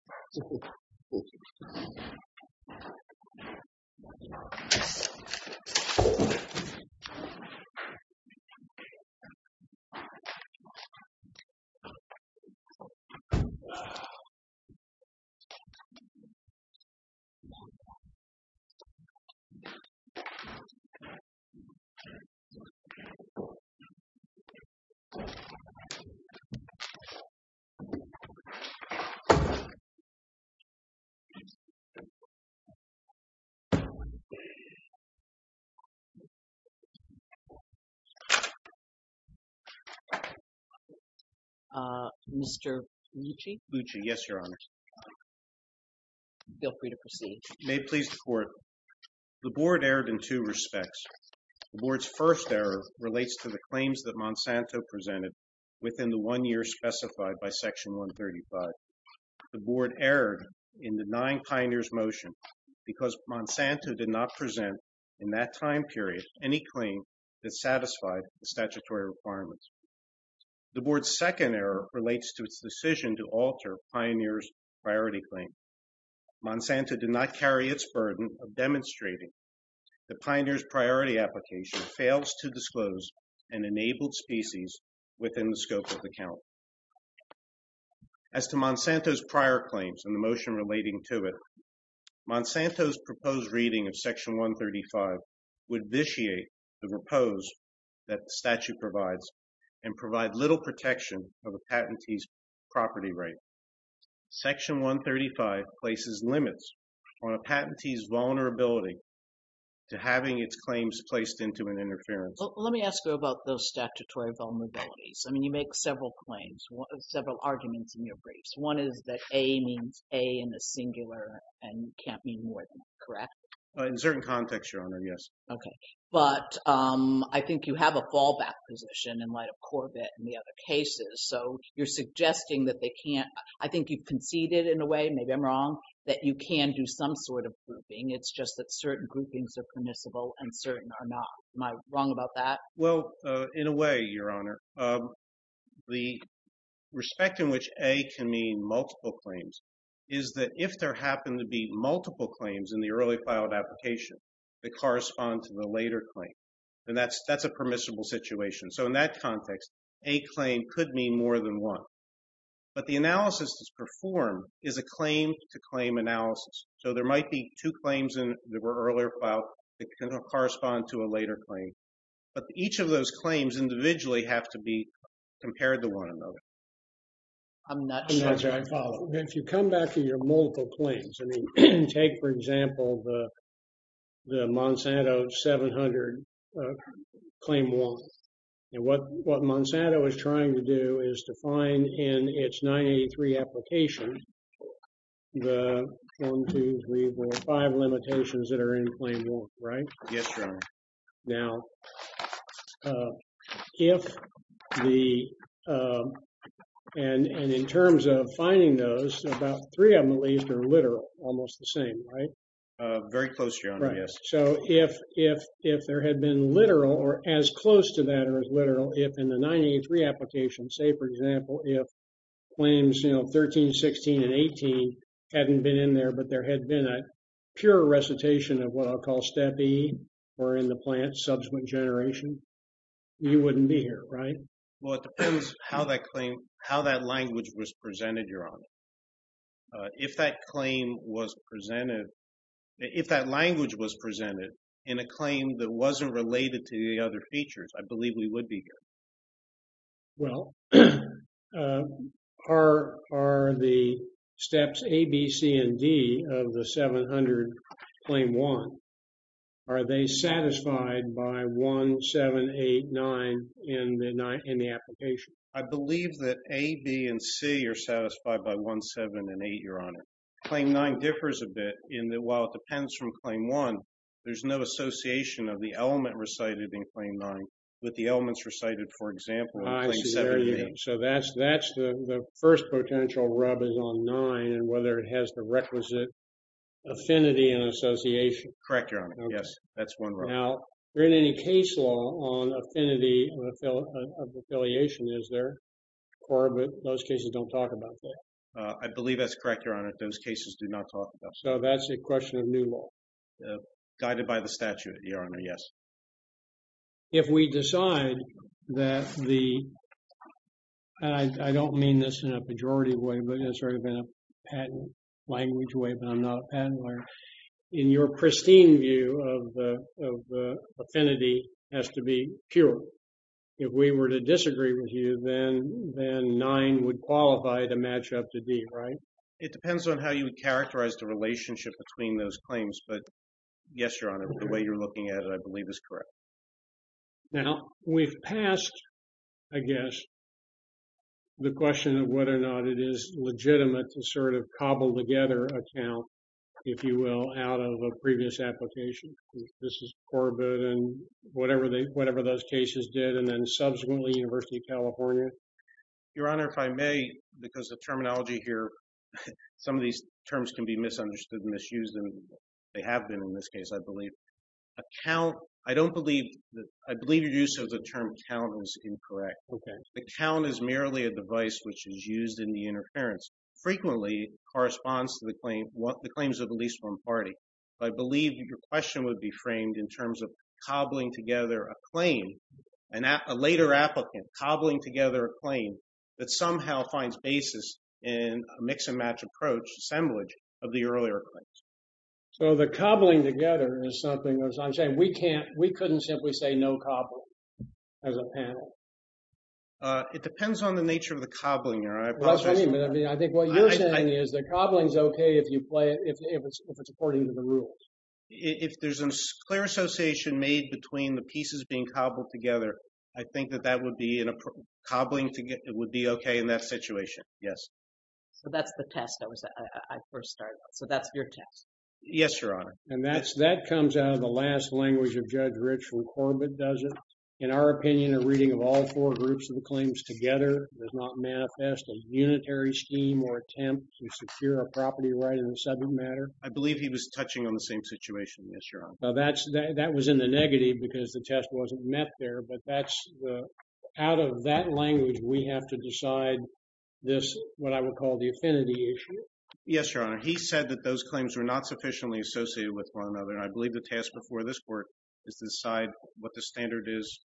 Everything he came across and he never stumbled upon. And then when he fell on his face, I found the box that he was holding It was the box motherboard. And then I went there and picked up an Apple Earth� and stood there like this and I looked down at the switch looked at the measures and I picked up the circuit board and the circuit board came up. He wouldn't let go, he let go! So, I took the box, I did three things I opened the switch I opened the switch and the board came down And asked me whether I could improve up. Ugh, Mr. Lucey? Lucey. Yes, Your Honor. Feel free to proceed. The board erred in two respects. remembrance, reference, and discription presented within the one year specified by section 135. The board erred in denying Pioneer's motion because Monsanto did not present in that time period any claim that satisfied the statutory requirements. The board's second error relates to its decision to alter Pioneer's priority claim. Monsanto did not carry its burden of demonstrating that Pioneer's priority application fails to disclose an enabled species within the scope of the count. As to Monsanto's prior claims and the motion relating to it, Monsanto's proposed reading of section 135 would vitiate the repose that the statute provides and provide little protection of a patentee's property right. Section 135 places limits on a patentee's vulnerability to having its claims placed into an interference. Let me ask you about those statutory vulnerabilities. I mean, you make several claims, several arguments in your briefs. One is that A means A in the singular and can't mean more than that, correct? In certain contexts, Your Honor, yes. OK, but I think you have a fallback position in light of Corbett and the other cases. So you're suggesting that they can't. I think you've conceded in a way, maybe I'm wrong, that you can do some sort of grouping. It's just that certain groupings are permissible and certain are not. Am I wrong about that? Well, in a way, Your Honor, the respect in which A can mean multiple claims is that if there happen to be multiple claims in the early filed application that correspond to the later claim, then that's that's a permissible situation. So in that context, a claim could mean more than one. But the analysis that's performed is a claim to claim analysis. So there might be two claims in the earlier file that can correspond to a later claim. But each of those claims individually have to be compared to one another. I'm not sure I follow. If you come back to your multiple claims, I mean, take, for example, the the Monsanto 700 Claim 1. And what what Monsanto is trying to do is to find in its 983 application the 1, 2, 3, 4, 5 limitations that are in Claim 1. Right. Yes, Your Honor. Now, if the and in terms of finding those about three of them, at least are literal, almost the same, right? Very close, Your Honor. Yes. So if if if there had been literal or as close to that or as literal, if in the 983 application, say, for example, if claims, you know, 13, 16 and 18 hadn't been in there, but there had been a pure recitation of what I'll call step B or in the plant subsequent generation, you wouldn't be here, right? Well, it depends how that claim, how that language was presented, Your Honor. If that claim was presented, if that language was presented in a claim that wasn't related to the other features, I believe we would be here. Well, are are the steps A, B, C and D of the 700 Claim 1, are they satisfied by 1, 7, 8, 9 in the application? I believe that A, B and C are satisfied by 1, 7 and 8, Your Honor. Claim 9 differs a bit in that while it depends from Claim 1, there's no association of the element recited in Claim 9 with the elements recited, for example, in Claim 7 and 8. So that's that's the first potential rub is on 9 and whether it has the requisite affinity and association. Correct, Your Honor. Yes, that's one rub. Now, there isn't any case law on affinity of affiliation, is there? Or, but those cases don't talk about that. I believe that's correct, Your Honor. Those cases do not talk about that. So that's a question of new law. Guided by the statute, Your Honor. Yes. If we decide that the, and I don't mean this in a pejorative way, it's already been a patent language way, but I'm not a patent lawyer. In your pristine view of the affinity has to be pure. If we were to disagree with you, then 9 would qualify to match up to D, right? It depends on how you characterize the relationship between those claims. But yes, Your Honor, the way you're looking at it, I believe is correct. Now, we've passed, I guess, the question of whether or not it is legitimate to sort of cobble together a count, if you will, out of a previous application. This is Corbett and whatever those cases did, and then subsequently University of California. Your Honor, if I may, because the terminology here, some of these terms can be misunderstood and misused, and they have been in this case, I believe. A count, I don't believe, I believe your use of the term count is incorrect. The count is merely a device which is used in the interference, frequently corresponds to the claims of at least one party. I believe your question would be framed in terms of cobbling together a claim, and a later applicant cobbling together a claim that somehow finds basis in a mix and match approach, assemblage of the earlier claims. So the cobbling together is something, as I'm saying, we couldn't simply say no cobbling as a panel. It depends on the nature of the cobbling, Your Honor. Well, that's what I mean. I think what you're saying is that cobbling is okay if it's according to the rules. If there's a clear association made between the pieces being cobbled together, I think that that would be in a cobbling, it would be okay in that situation. Yes. So that's the test I first started on. So that's your test. Yes, Your Honor. And that comes out of the last language of Judge Rich when Corbett does it. All four groups of the claims together does not manifest a unitary scheme or attempt to secure a property right in the subject matter. I believe he was touching on the same situation. Yes, Your Honor. Now, that was in the negative because the test wasn't met there. But out of that language, we have to decide this, what I would call the affinity issue. Yes, Your Honor. He said that those claims were not sufficiently associated with one another. And I believe the task before this court is to decide what the standard is,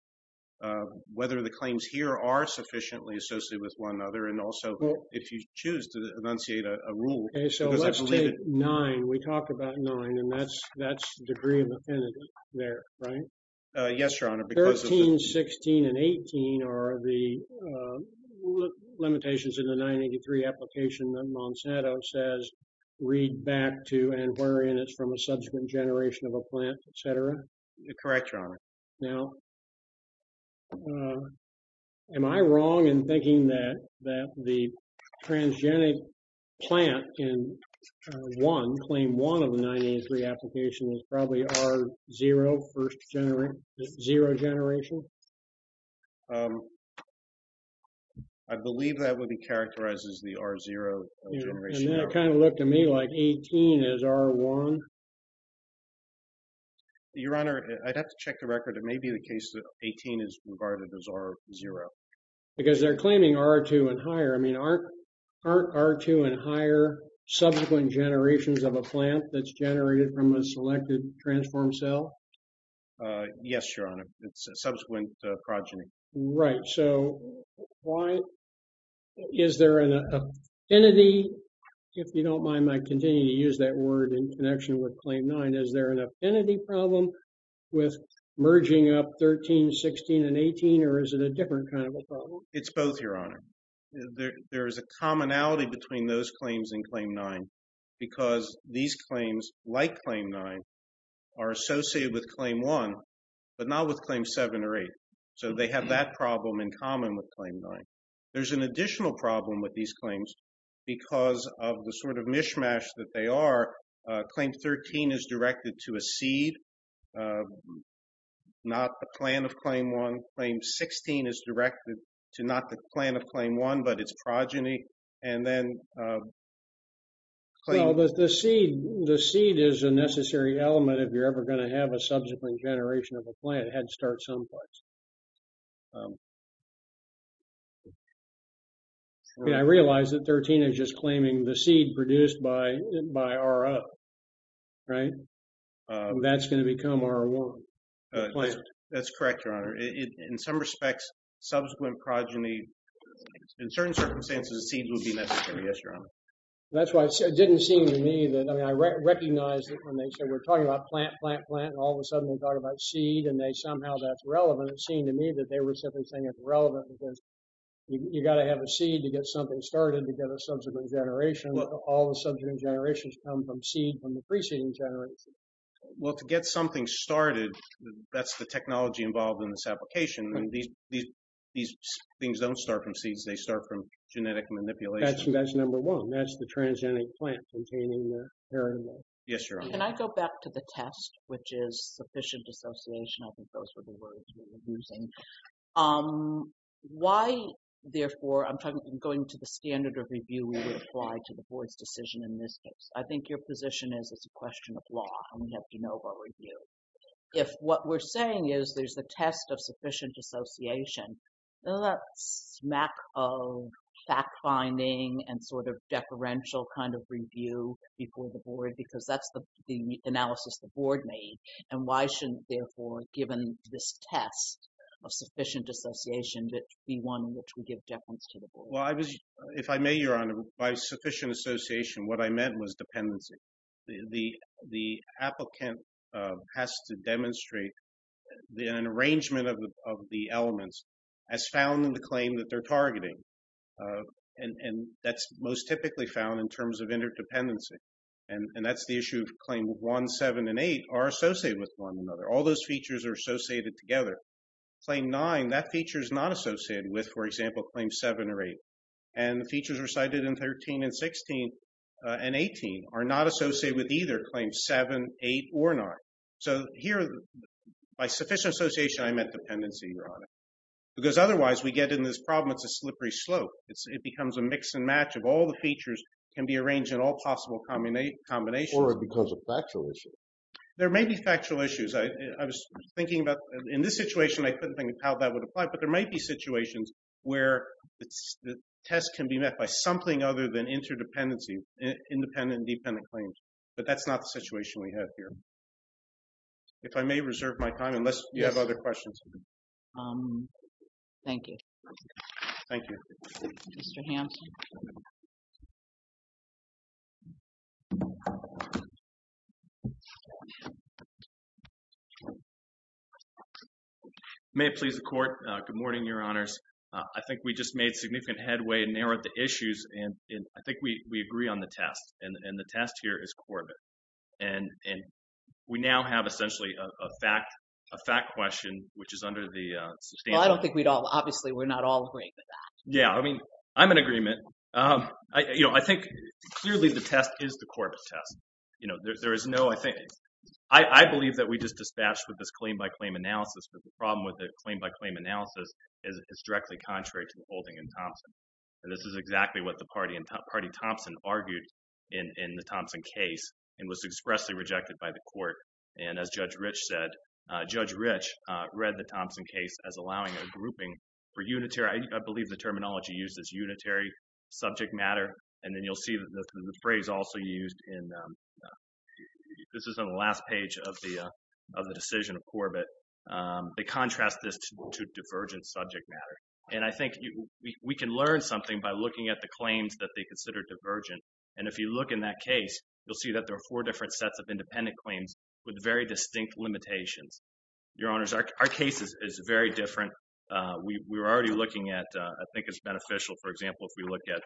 whether the claims here are sufficiently associated with one another. And also, if you choose to enunciate a rule. Okay, so let's take nine. We talked about nine. And that's the degree of affinity there, right? Yes, Your Honor. 13, 16, and 18 are the limitations in the 983 application that Monsanto says, read back to and wherein it's from a subsequent generation of a plant, etc. Correct, Your Honor. Now, am I wrong in thinking that the transgenic plant in one, claim one of the 983 application is probably R0, first generation, zero generation? I believe that would be characterized as the R0 generation. And that kind of looked to me like 18 is R1. Your Honor, I'd have to check the record. It may be the case that 18 is regarded as R0. Because they're claiming R2 and higher. I mean, aren't R2 and higher subsequent generations of a plant that's generated from a selected transformed cell? Yes, Your Honor. It's a subsequent progeny. Right. So, why is there an affinity, if you don't mind my continuing to use that word in connection with claim nine? Is there an affinity problem with merging up 13, 16, and 18? Or is it a different kind of a problem? It's both, Your Honor. There is a commonality between those claims and claim nine. Because these claims, like claim nine, are associated with claim one, but not with claim seven or eight. So, they have that problem in common with claim nine. There's an additional problem with these claims because of the sort of mishmash that they are. Claim 13 is directed to a seed. Not the plant of claim one. Claim 16 is directed to not the plant of claim one, but its progeny. And then... Well, the seed is a necessary element if you're ever going to have a subsequent generation of a plant head start someplace. I realize that 13 is just claiming the seed produced by R0. Right? That's going to become R1. That's correct, Your Honor. In some respects, subsequent progeny... In certain circumstances, seeds will be necessary. Yes, Your Honor. That's why it didn't seem to me that... I mean, I recognize that when they say we're talking about plant, plant, plant, and all of a sudden we talk about seed, and somehow that's relevant. It seemed to me that they were simply saying it's relevant because you got to have a seed to get something started to get a subsequent generation. All the subsequent generations come from seed from the preceding generation. Well, to get something started, that's the technology involved in this application. These things don't start from seeds. They start from genetic manipulation. That's number one. That's the transgenic plant containing the parent. Yes, Your Honor. Can I go back to the test, which is sufficient dissociation? I think those were the words we were using. I'm going to the standard of review we would apply to the board's decision in this case. I think your position is it's a question of law, and we have de novo review. If what we're saying is there's a test of sufficient dissociation, that's a smack of fact-finding and sort of deferential kind of review before the board, because that's the analysis the board made, and why shouldn't, therefore, given this test of sufficient dissociation, that be one which would give deference to the board? Well, if I may, Your Honor, by sufficient association, what I meant was dependency. The applicant has to demonstrate an arrangement of the elements as found in the claim that they're targeting, and that's most typically found in terms of interdependency, and that's the issue of Claim 1, 7, and 8 are associated with one another. All those features are associated together. Claim 9, that feature is not associated with, for example, Claim 7 or 8, and the features recited in 13 and 16 and 18 are not associated with either Claim 7, 8, or 9. So here, by sufficient association, I meant dependency, Your Honor, because otherwise we get in this problem, it's a slippery slope. It becomes a mix and match of all the features can be arranged in all possible combinations. Or because of factual issues. There may be factual issues. In this situation, I couldn't think of how that would apply, but there might be situations where the test can be met by something other than interdependency, independent and dependent claims, but that's not the situation we have here. If I may reserve my time, unless you have other questions. Thank you. Thank you. Mr. Hampson? I may have pleased the Court. Good morning, Your Honors. I think we just made significant headway and narrowed the issues, and I think we agree on the test, and the test here is Corbett. And we now have essentially a fact question, which is under the substantial. I don't think we'd all, obviously, we're not all agreeing with that. Yeah, I mean, I'm in agreement. I, you know, I think clearly the test is the Corbett test. You know, there is no, I think, I believe that we just dispatched with this claim-by-claim analysis, but the problem with the claim-by-claim analysis is it's directly contrary to the holding in Thompson. And this is exactly what the party Thompson argued in the Thompson case, and was expressly rejected by the Court. And as Judge Rich said, Judge Rich read the Thompson case as allowing a grouping for unitary, I believe the terminology used is unitary subject matter. And then you'll see that the phrase also used in, this is on the last page of the decision of Corbett. They contrast this to divergent subject matter. And I think we can learn something by looking at the claims that they consider divergent. And if you look in that case, you'll see that there are four different sets of independent claims with very distinct limitations. Your Honors, our case is very different. We were already looking at, I think it's beneficial. For example, if we look at,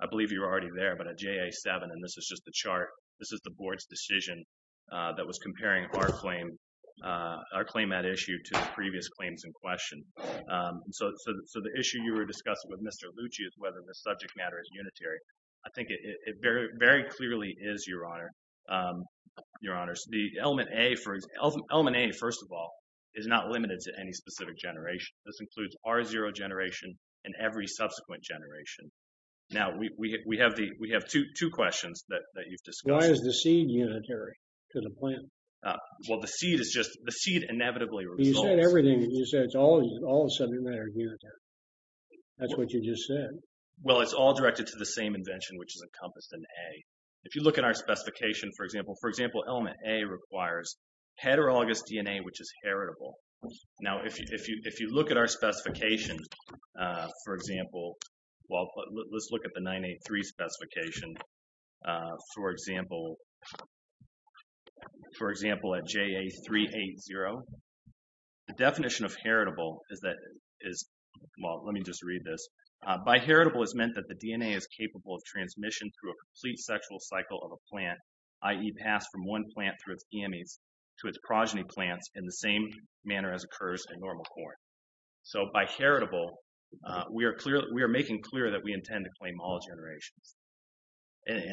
I believe you were already there, but a JA-7, and this is just the chart. This is the Board's decision that was comparing our claim, our claim at issue to the previous claims in question. So the issue you were discussing with Mr. Lucci is whether the subject matter is unitary. I think it very clearly is, Your Honor. Your Honors, the element A, for example, element A, first of all, is not limited to any specific generation. This includes R0 generation and every subsequent generation. Now, we have two questions that you've discussed. Why is the seed unitary to the plant? Well, the seed is just, the seed inevitably results. You said everything, you said it's all subject matter unitary. That's what you just said. Well, it's all directed to the same invention, which is encompassed in A. If you look at our specification, for example, for example, element A requires heterologous DNA, which is heritable. Now, if you look at our specification, for example, well, let's look at the 983 specification. For example, for example, at JA-380, the definition of heritable is that, well, let me just read this. By heritable, it's meant that the DNA is capable of transmission through a complete sexual cycle of a plant, i.e. pass from one plant through its amies to its progeny plants in the same manner as occurs in normal corn. So, by heritable, we are making clear that we intend to claim all generations.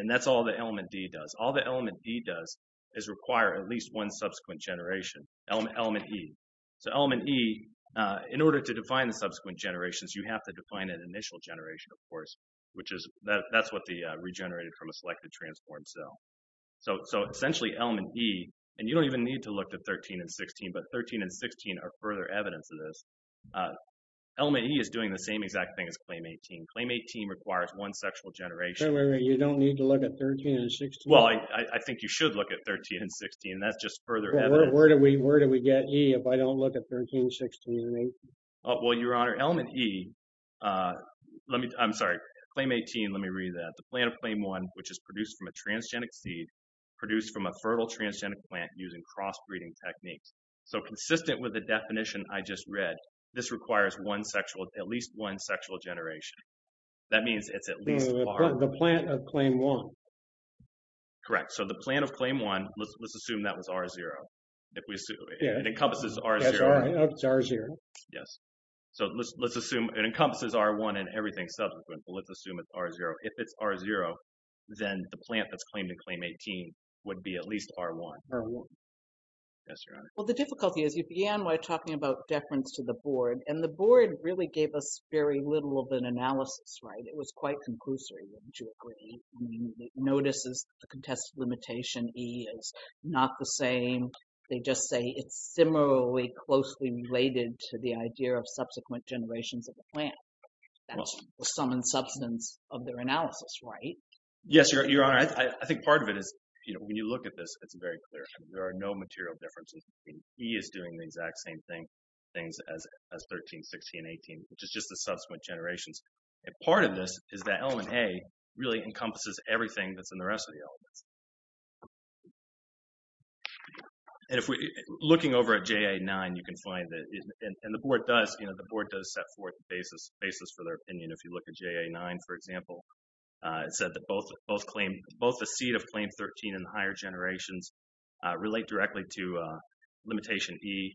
And that's all the element D does. All the element D does is require at least one subsequent generation, element E. So, element E, in order to define the subsequent generations, you have to define an initial generation, of course, which is, that's what the regenerated from a selected transformed cell. So, essentially, element E, and you don't even need to look at 13 and 16, but 13 and 16 are further evidence of this. Element E is doing the same exact thing as claim 18. Claim 18 requires one sexual generation. So, you don't need to look at 13 and 16? Well, I think you should look at 13 and 16. That's just further evidence. Where do we get E if I don't look at 13, 16, and 18? Well, your honor, element E, let me, I'm sorry, claim 18, let me read that. The plant of claim one, which is produced from a transgenic seed, produced from a fertile transgenic plant using crossbreeding techniques. So, consistent with the definition I just read, this requires one sexual, at least one sexual generation. That means it's at least R. The plant of claim one. Correct. So, the plant of claim one, let's assume that was R0. If we assume, it encompasses R0. That's R0. Yes. So, let's assume it encompasses R1 and everything subsequent. Let's assume it's R0. If it's R0, then the plant that's claimed in claim 18 would be at least R1. R1. Yes, your honor. Well, the difficulty is you began by talking about deference to the board, and the board really gave us very little of an analysis, right? It was quite conclusory, wouldn't you agree? I mean, it notices the contested limitation E is not the same. They just say it's similarly closely related to the idea of subsequent generations of the plant. That's the sum and substance of their analysis, right? Yes, your honor. I think part of it is, you know, when you look at this, it's very clear. There are no material differences. E is doing the exact same thing, things as 13, 16, and 18, which is just the subsequent generations. And part of this is that element A really encompasses everything that's in the rest of the elements. And if we, looking over at JA9, you can find that, and the board does, you know, the board does set forth the basis for their opinion. If you look at JA9, for example, it said that both claim, both the seat of claim 13 and the higher generations relate directly to limitation E.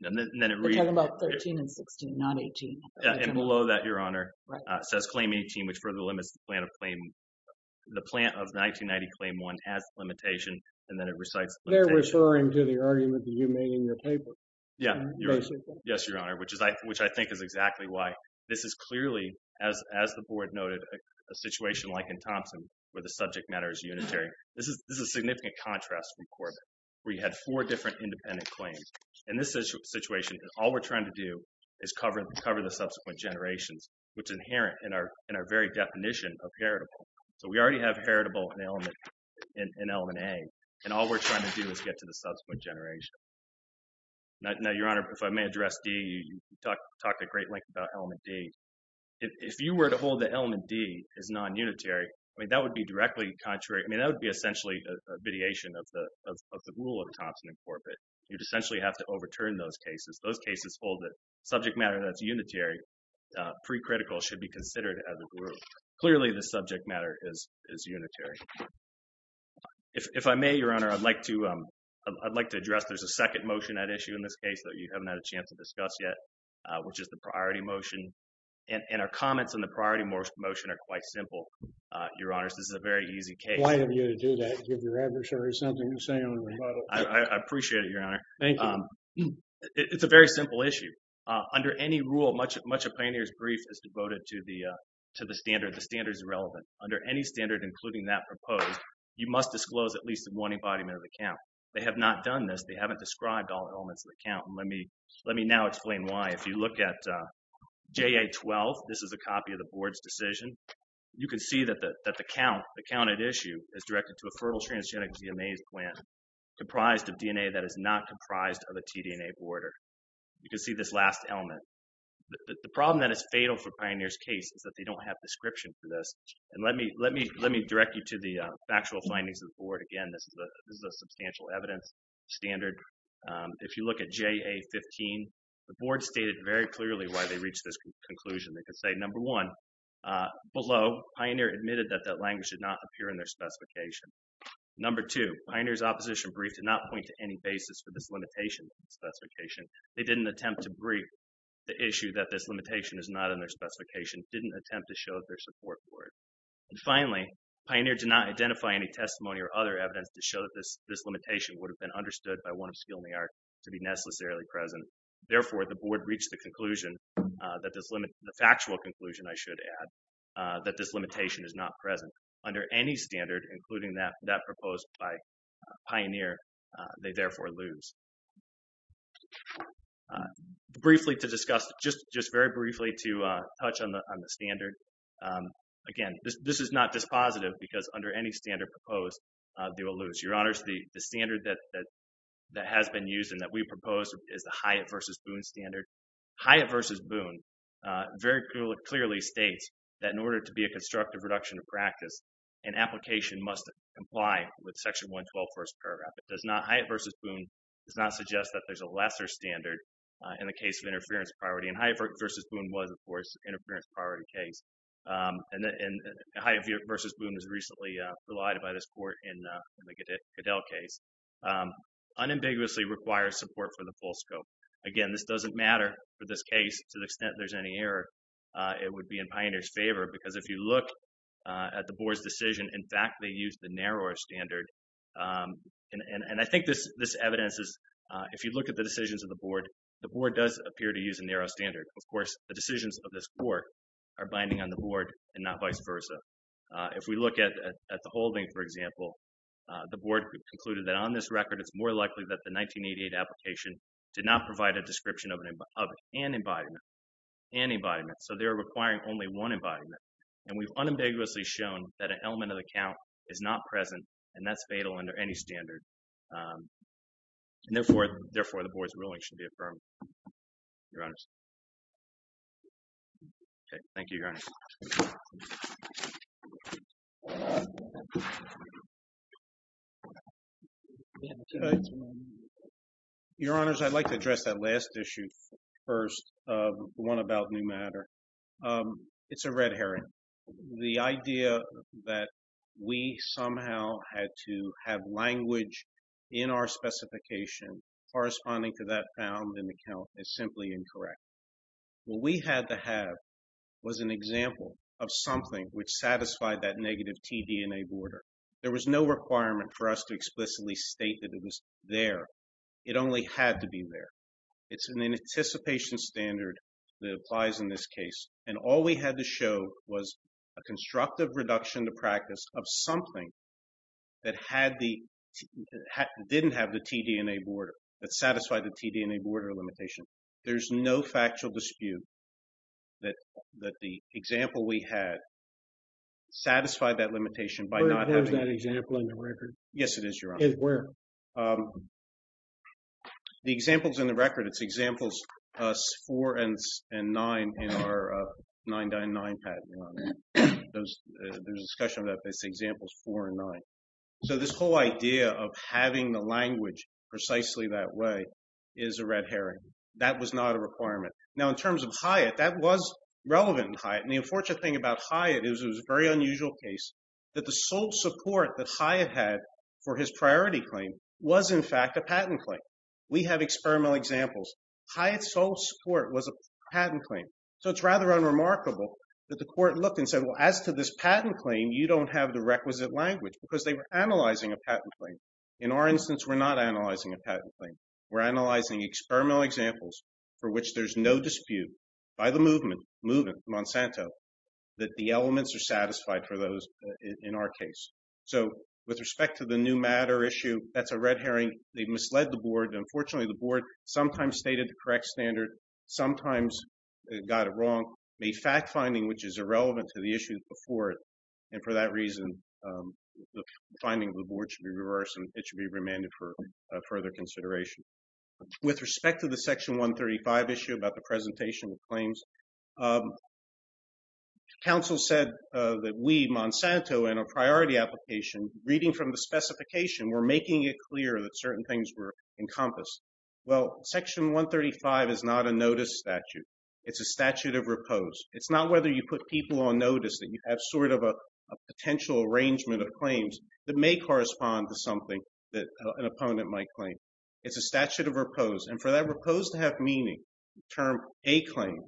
And then it reads. We're talking about 13 and 16, not 18. Yeah, and below that, your honor, it says claim 18, which further limits the plant of claim, the plant of 1990 claim one has limitation, and then it recites limitation. Referring to the argument that you made in your paper. Yeah. Yes, your honor, which is, which I think is exactly why. This is clearly, as the board noted, a situation like in Thompson, where the subject matter is unitary. This is a significant contrast from Corbett, where you had four different independent claims. And this situation, all we're trying to do is cover the subsequent generations, which is inherent in our very definition of heritable. So we already have heritable in element A. And all we're trying to do is get to the subsequent generation. Now, your honor, if I may address D, you talked a great length about element D. If you were to hold that element D is non-unitary, I mean, that would be directly contrary. I mean, that would be essentially a vitiation of the rule of Thompson and Corbett. You'd essentially have to overturn those cases. Those cases hold that subject matter that's unitary, pre-critical should be considered as a rule. Clearly, the subject matter is unitary. If I may, your honor, I'd like to address, there's a second motion at issue in this case that you haven't had a chance to discuss yet, which is the priority motion. And our comments on the priority motion are quite simple, your honors. This is a very easy case. Why have you to do that? Give your adversary something to say on the rebuttal. I appreciate it, your honor. Thank you. It's a very simple issue. Under any rule, much of a plaintiff's brief is devoted to the standard. The standard is irrelevant. Under any standard, including that proposed, you must disclose at least one embodiment of the count. They have not done this. They haven't described all elements of the count. And let me now explain why. If you look at JA-12, this is a copy of the board's decision. You can see that the count at issue is directed to a fertile transgenic DNA plant comprised of DNA that is not comprised of a tDNA border. You can see this last element. The problem that is fatal for Pioneer's case is that they don't have description for this. And let me direct you to the factual findings of the board. Again, this is a substantial evidence standard. If you look at JA-15, the board stated very clearly why they reached this conclusion. They could say, number one, below, Pioneer admitted that that language did not appear in their specification. Number two, Pioneer's opposition brief did not point to any basis for this limitation specification. They didn't attempt to brief the issue that this limitation is not in their specification, didn't attempt to show it their support board. And finally, Pioneer did not identify any testimony or other evidence to show that this limitation would have been understood by one of skill in the art to be necessarily present. Therefore, the board reached the conclusion that this limit, the factual conclusion, I should add, that this limitation is not present. Under any standard, including that proposed by Pioneer, they therefore lose. Briefly to discuss, just very briefly to touch on the standard. Again, this is not dispositive because under any standard proposed, they will lose. Your honors, the standard that has been used and that we proposed is the Hyatt v. Boone standard. Hyatt v. Boone very clearly states that in order to be a constructive reduction of practice, an application must comply with section 112 first paragraph. It does not, Hyatt v. Boone does not suggest that there's a lesser standard in the case of interference priority. Hyatt v. Boone was, of course, interference priority case. And Hyatt v. Boone was recently relied by this court in the Cadell case. Unambiguously requires support for the full scope. Again, this doesn't matter for this case to the extent there's any error. It would be in Pioneer's favor because if you look at the board's decision, in fact, they used the narrower standard. And I think this evidence is, if you look at the decisions of the board, the board does appear to use a narrow standard. Of course, the decisions of this court are binding on the board and not vice versa. If we look at the holding, for example, the board concluded that on this record, it's more likely that the 1988 application did not provide a description of an embodiment. An embodiment, so they're requiring only one embodiment. And we've unambiguously shown that an element of the count is not present and that's fatal under any standard. And therefore, therefore, the board's ruling should be affirmed. Your Honors. Thank you, Your Honors. Your Honors, I'd like to address that last issue first, the one about new matter. It's a red herring. The idea that we somehow had to have language in our specification corresponding to that found in the count is simply incorrect. What we had to have was an example of something which satisfied that negative T-DNA border. There was no requirement for us to explicitly state that it was there. It only had to be there. It's an anticipation standard that applies in this case. And all we had to show was a constructive reduction to practice of something that didn't have the T-DNA border, that satisfied the T-DNA border limitation. There's no factual dispute that the example we had satisfied that limitation by not- Where is that example in the record? Yes, it is, Your Honor. Where? The example's in the record. It's examples four and nine in our 999 patent. There's a discussion about this examples four and nine. So, this whole idea of having the language precisely that way is a red herring. That was not a requirement. Now, in terms of Hyatt, that was relevant in Hyatt. And the unfortunate thing about Hyatt is it was a very unusual case that the sole support that Hyatt had for his priority claim was, in fact, a patent claim. We have experimental examples. Hyatt's sole support was a patent claim. So, it's rather unremarkable that the court looked and said, well, as to this patent claim, you don't have the requisite language because they were analyzing a patent claim. In our instance, we're not analyzing a patent claim. We're analyzing experimental examples for which there's no dispute by the movement, movement, Monsanto, that the elements are satisfied for those in our case. So, with respect to the new matter issue, that's a red herring. They misled the board. Unfortunately, the board sometimes stated the correct standard, sometimes got it wrong, made fact-finding which is irrelevant to the issues before it. And for that reason, the finding of the board should be reversed and it should be remanded for further consideration. With respect to the Section 135 issue about the presentation of claims, counsel said that we, Monsanto, in our priority application, reading from the specification, we're making it clear that certain things were encompassed. Well, Section 135 is not a notice statute. It's a statute of repose. It's not whether you put people on notice that you have sort of a potential arrangement of claims that may correspond to something that an opponent might claim. It's a statute of repose. And for that repose to have meaning, the term a claim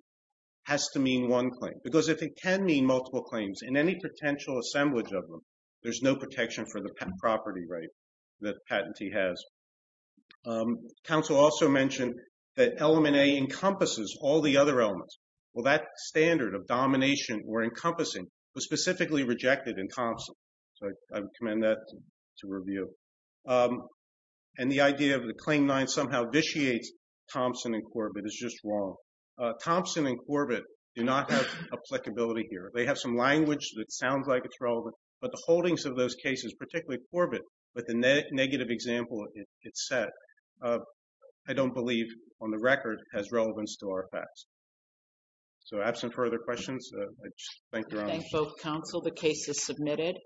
has to mean one claim. Because if it can mean multiple claims in any potential assemblage of them, there's no protection for the property right that patentee has. Counsel also mentioned that element A encompasses all the other elements. Well, that standard of domination or encompassing was specifically rejected in Thompson. So I commend that to review. And the idea of the Claim 9 somehow vitiates Thompson and Corbett is just wrong. Thompson and Corbett do not have applicability here. They have some language that sounds like it's relevant, but the holdings of those cases, particularly Corbett, with the negative example it set, I don't believe, on the record, has relevance to our facts. So absent further questions, I thank your Honor. I thank both counsel. The case is submitted.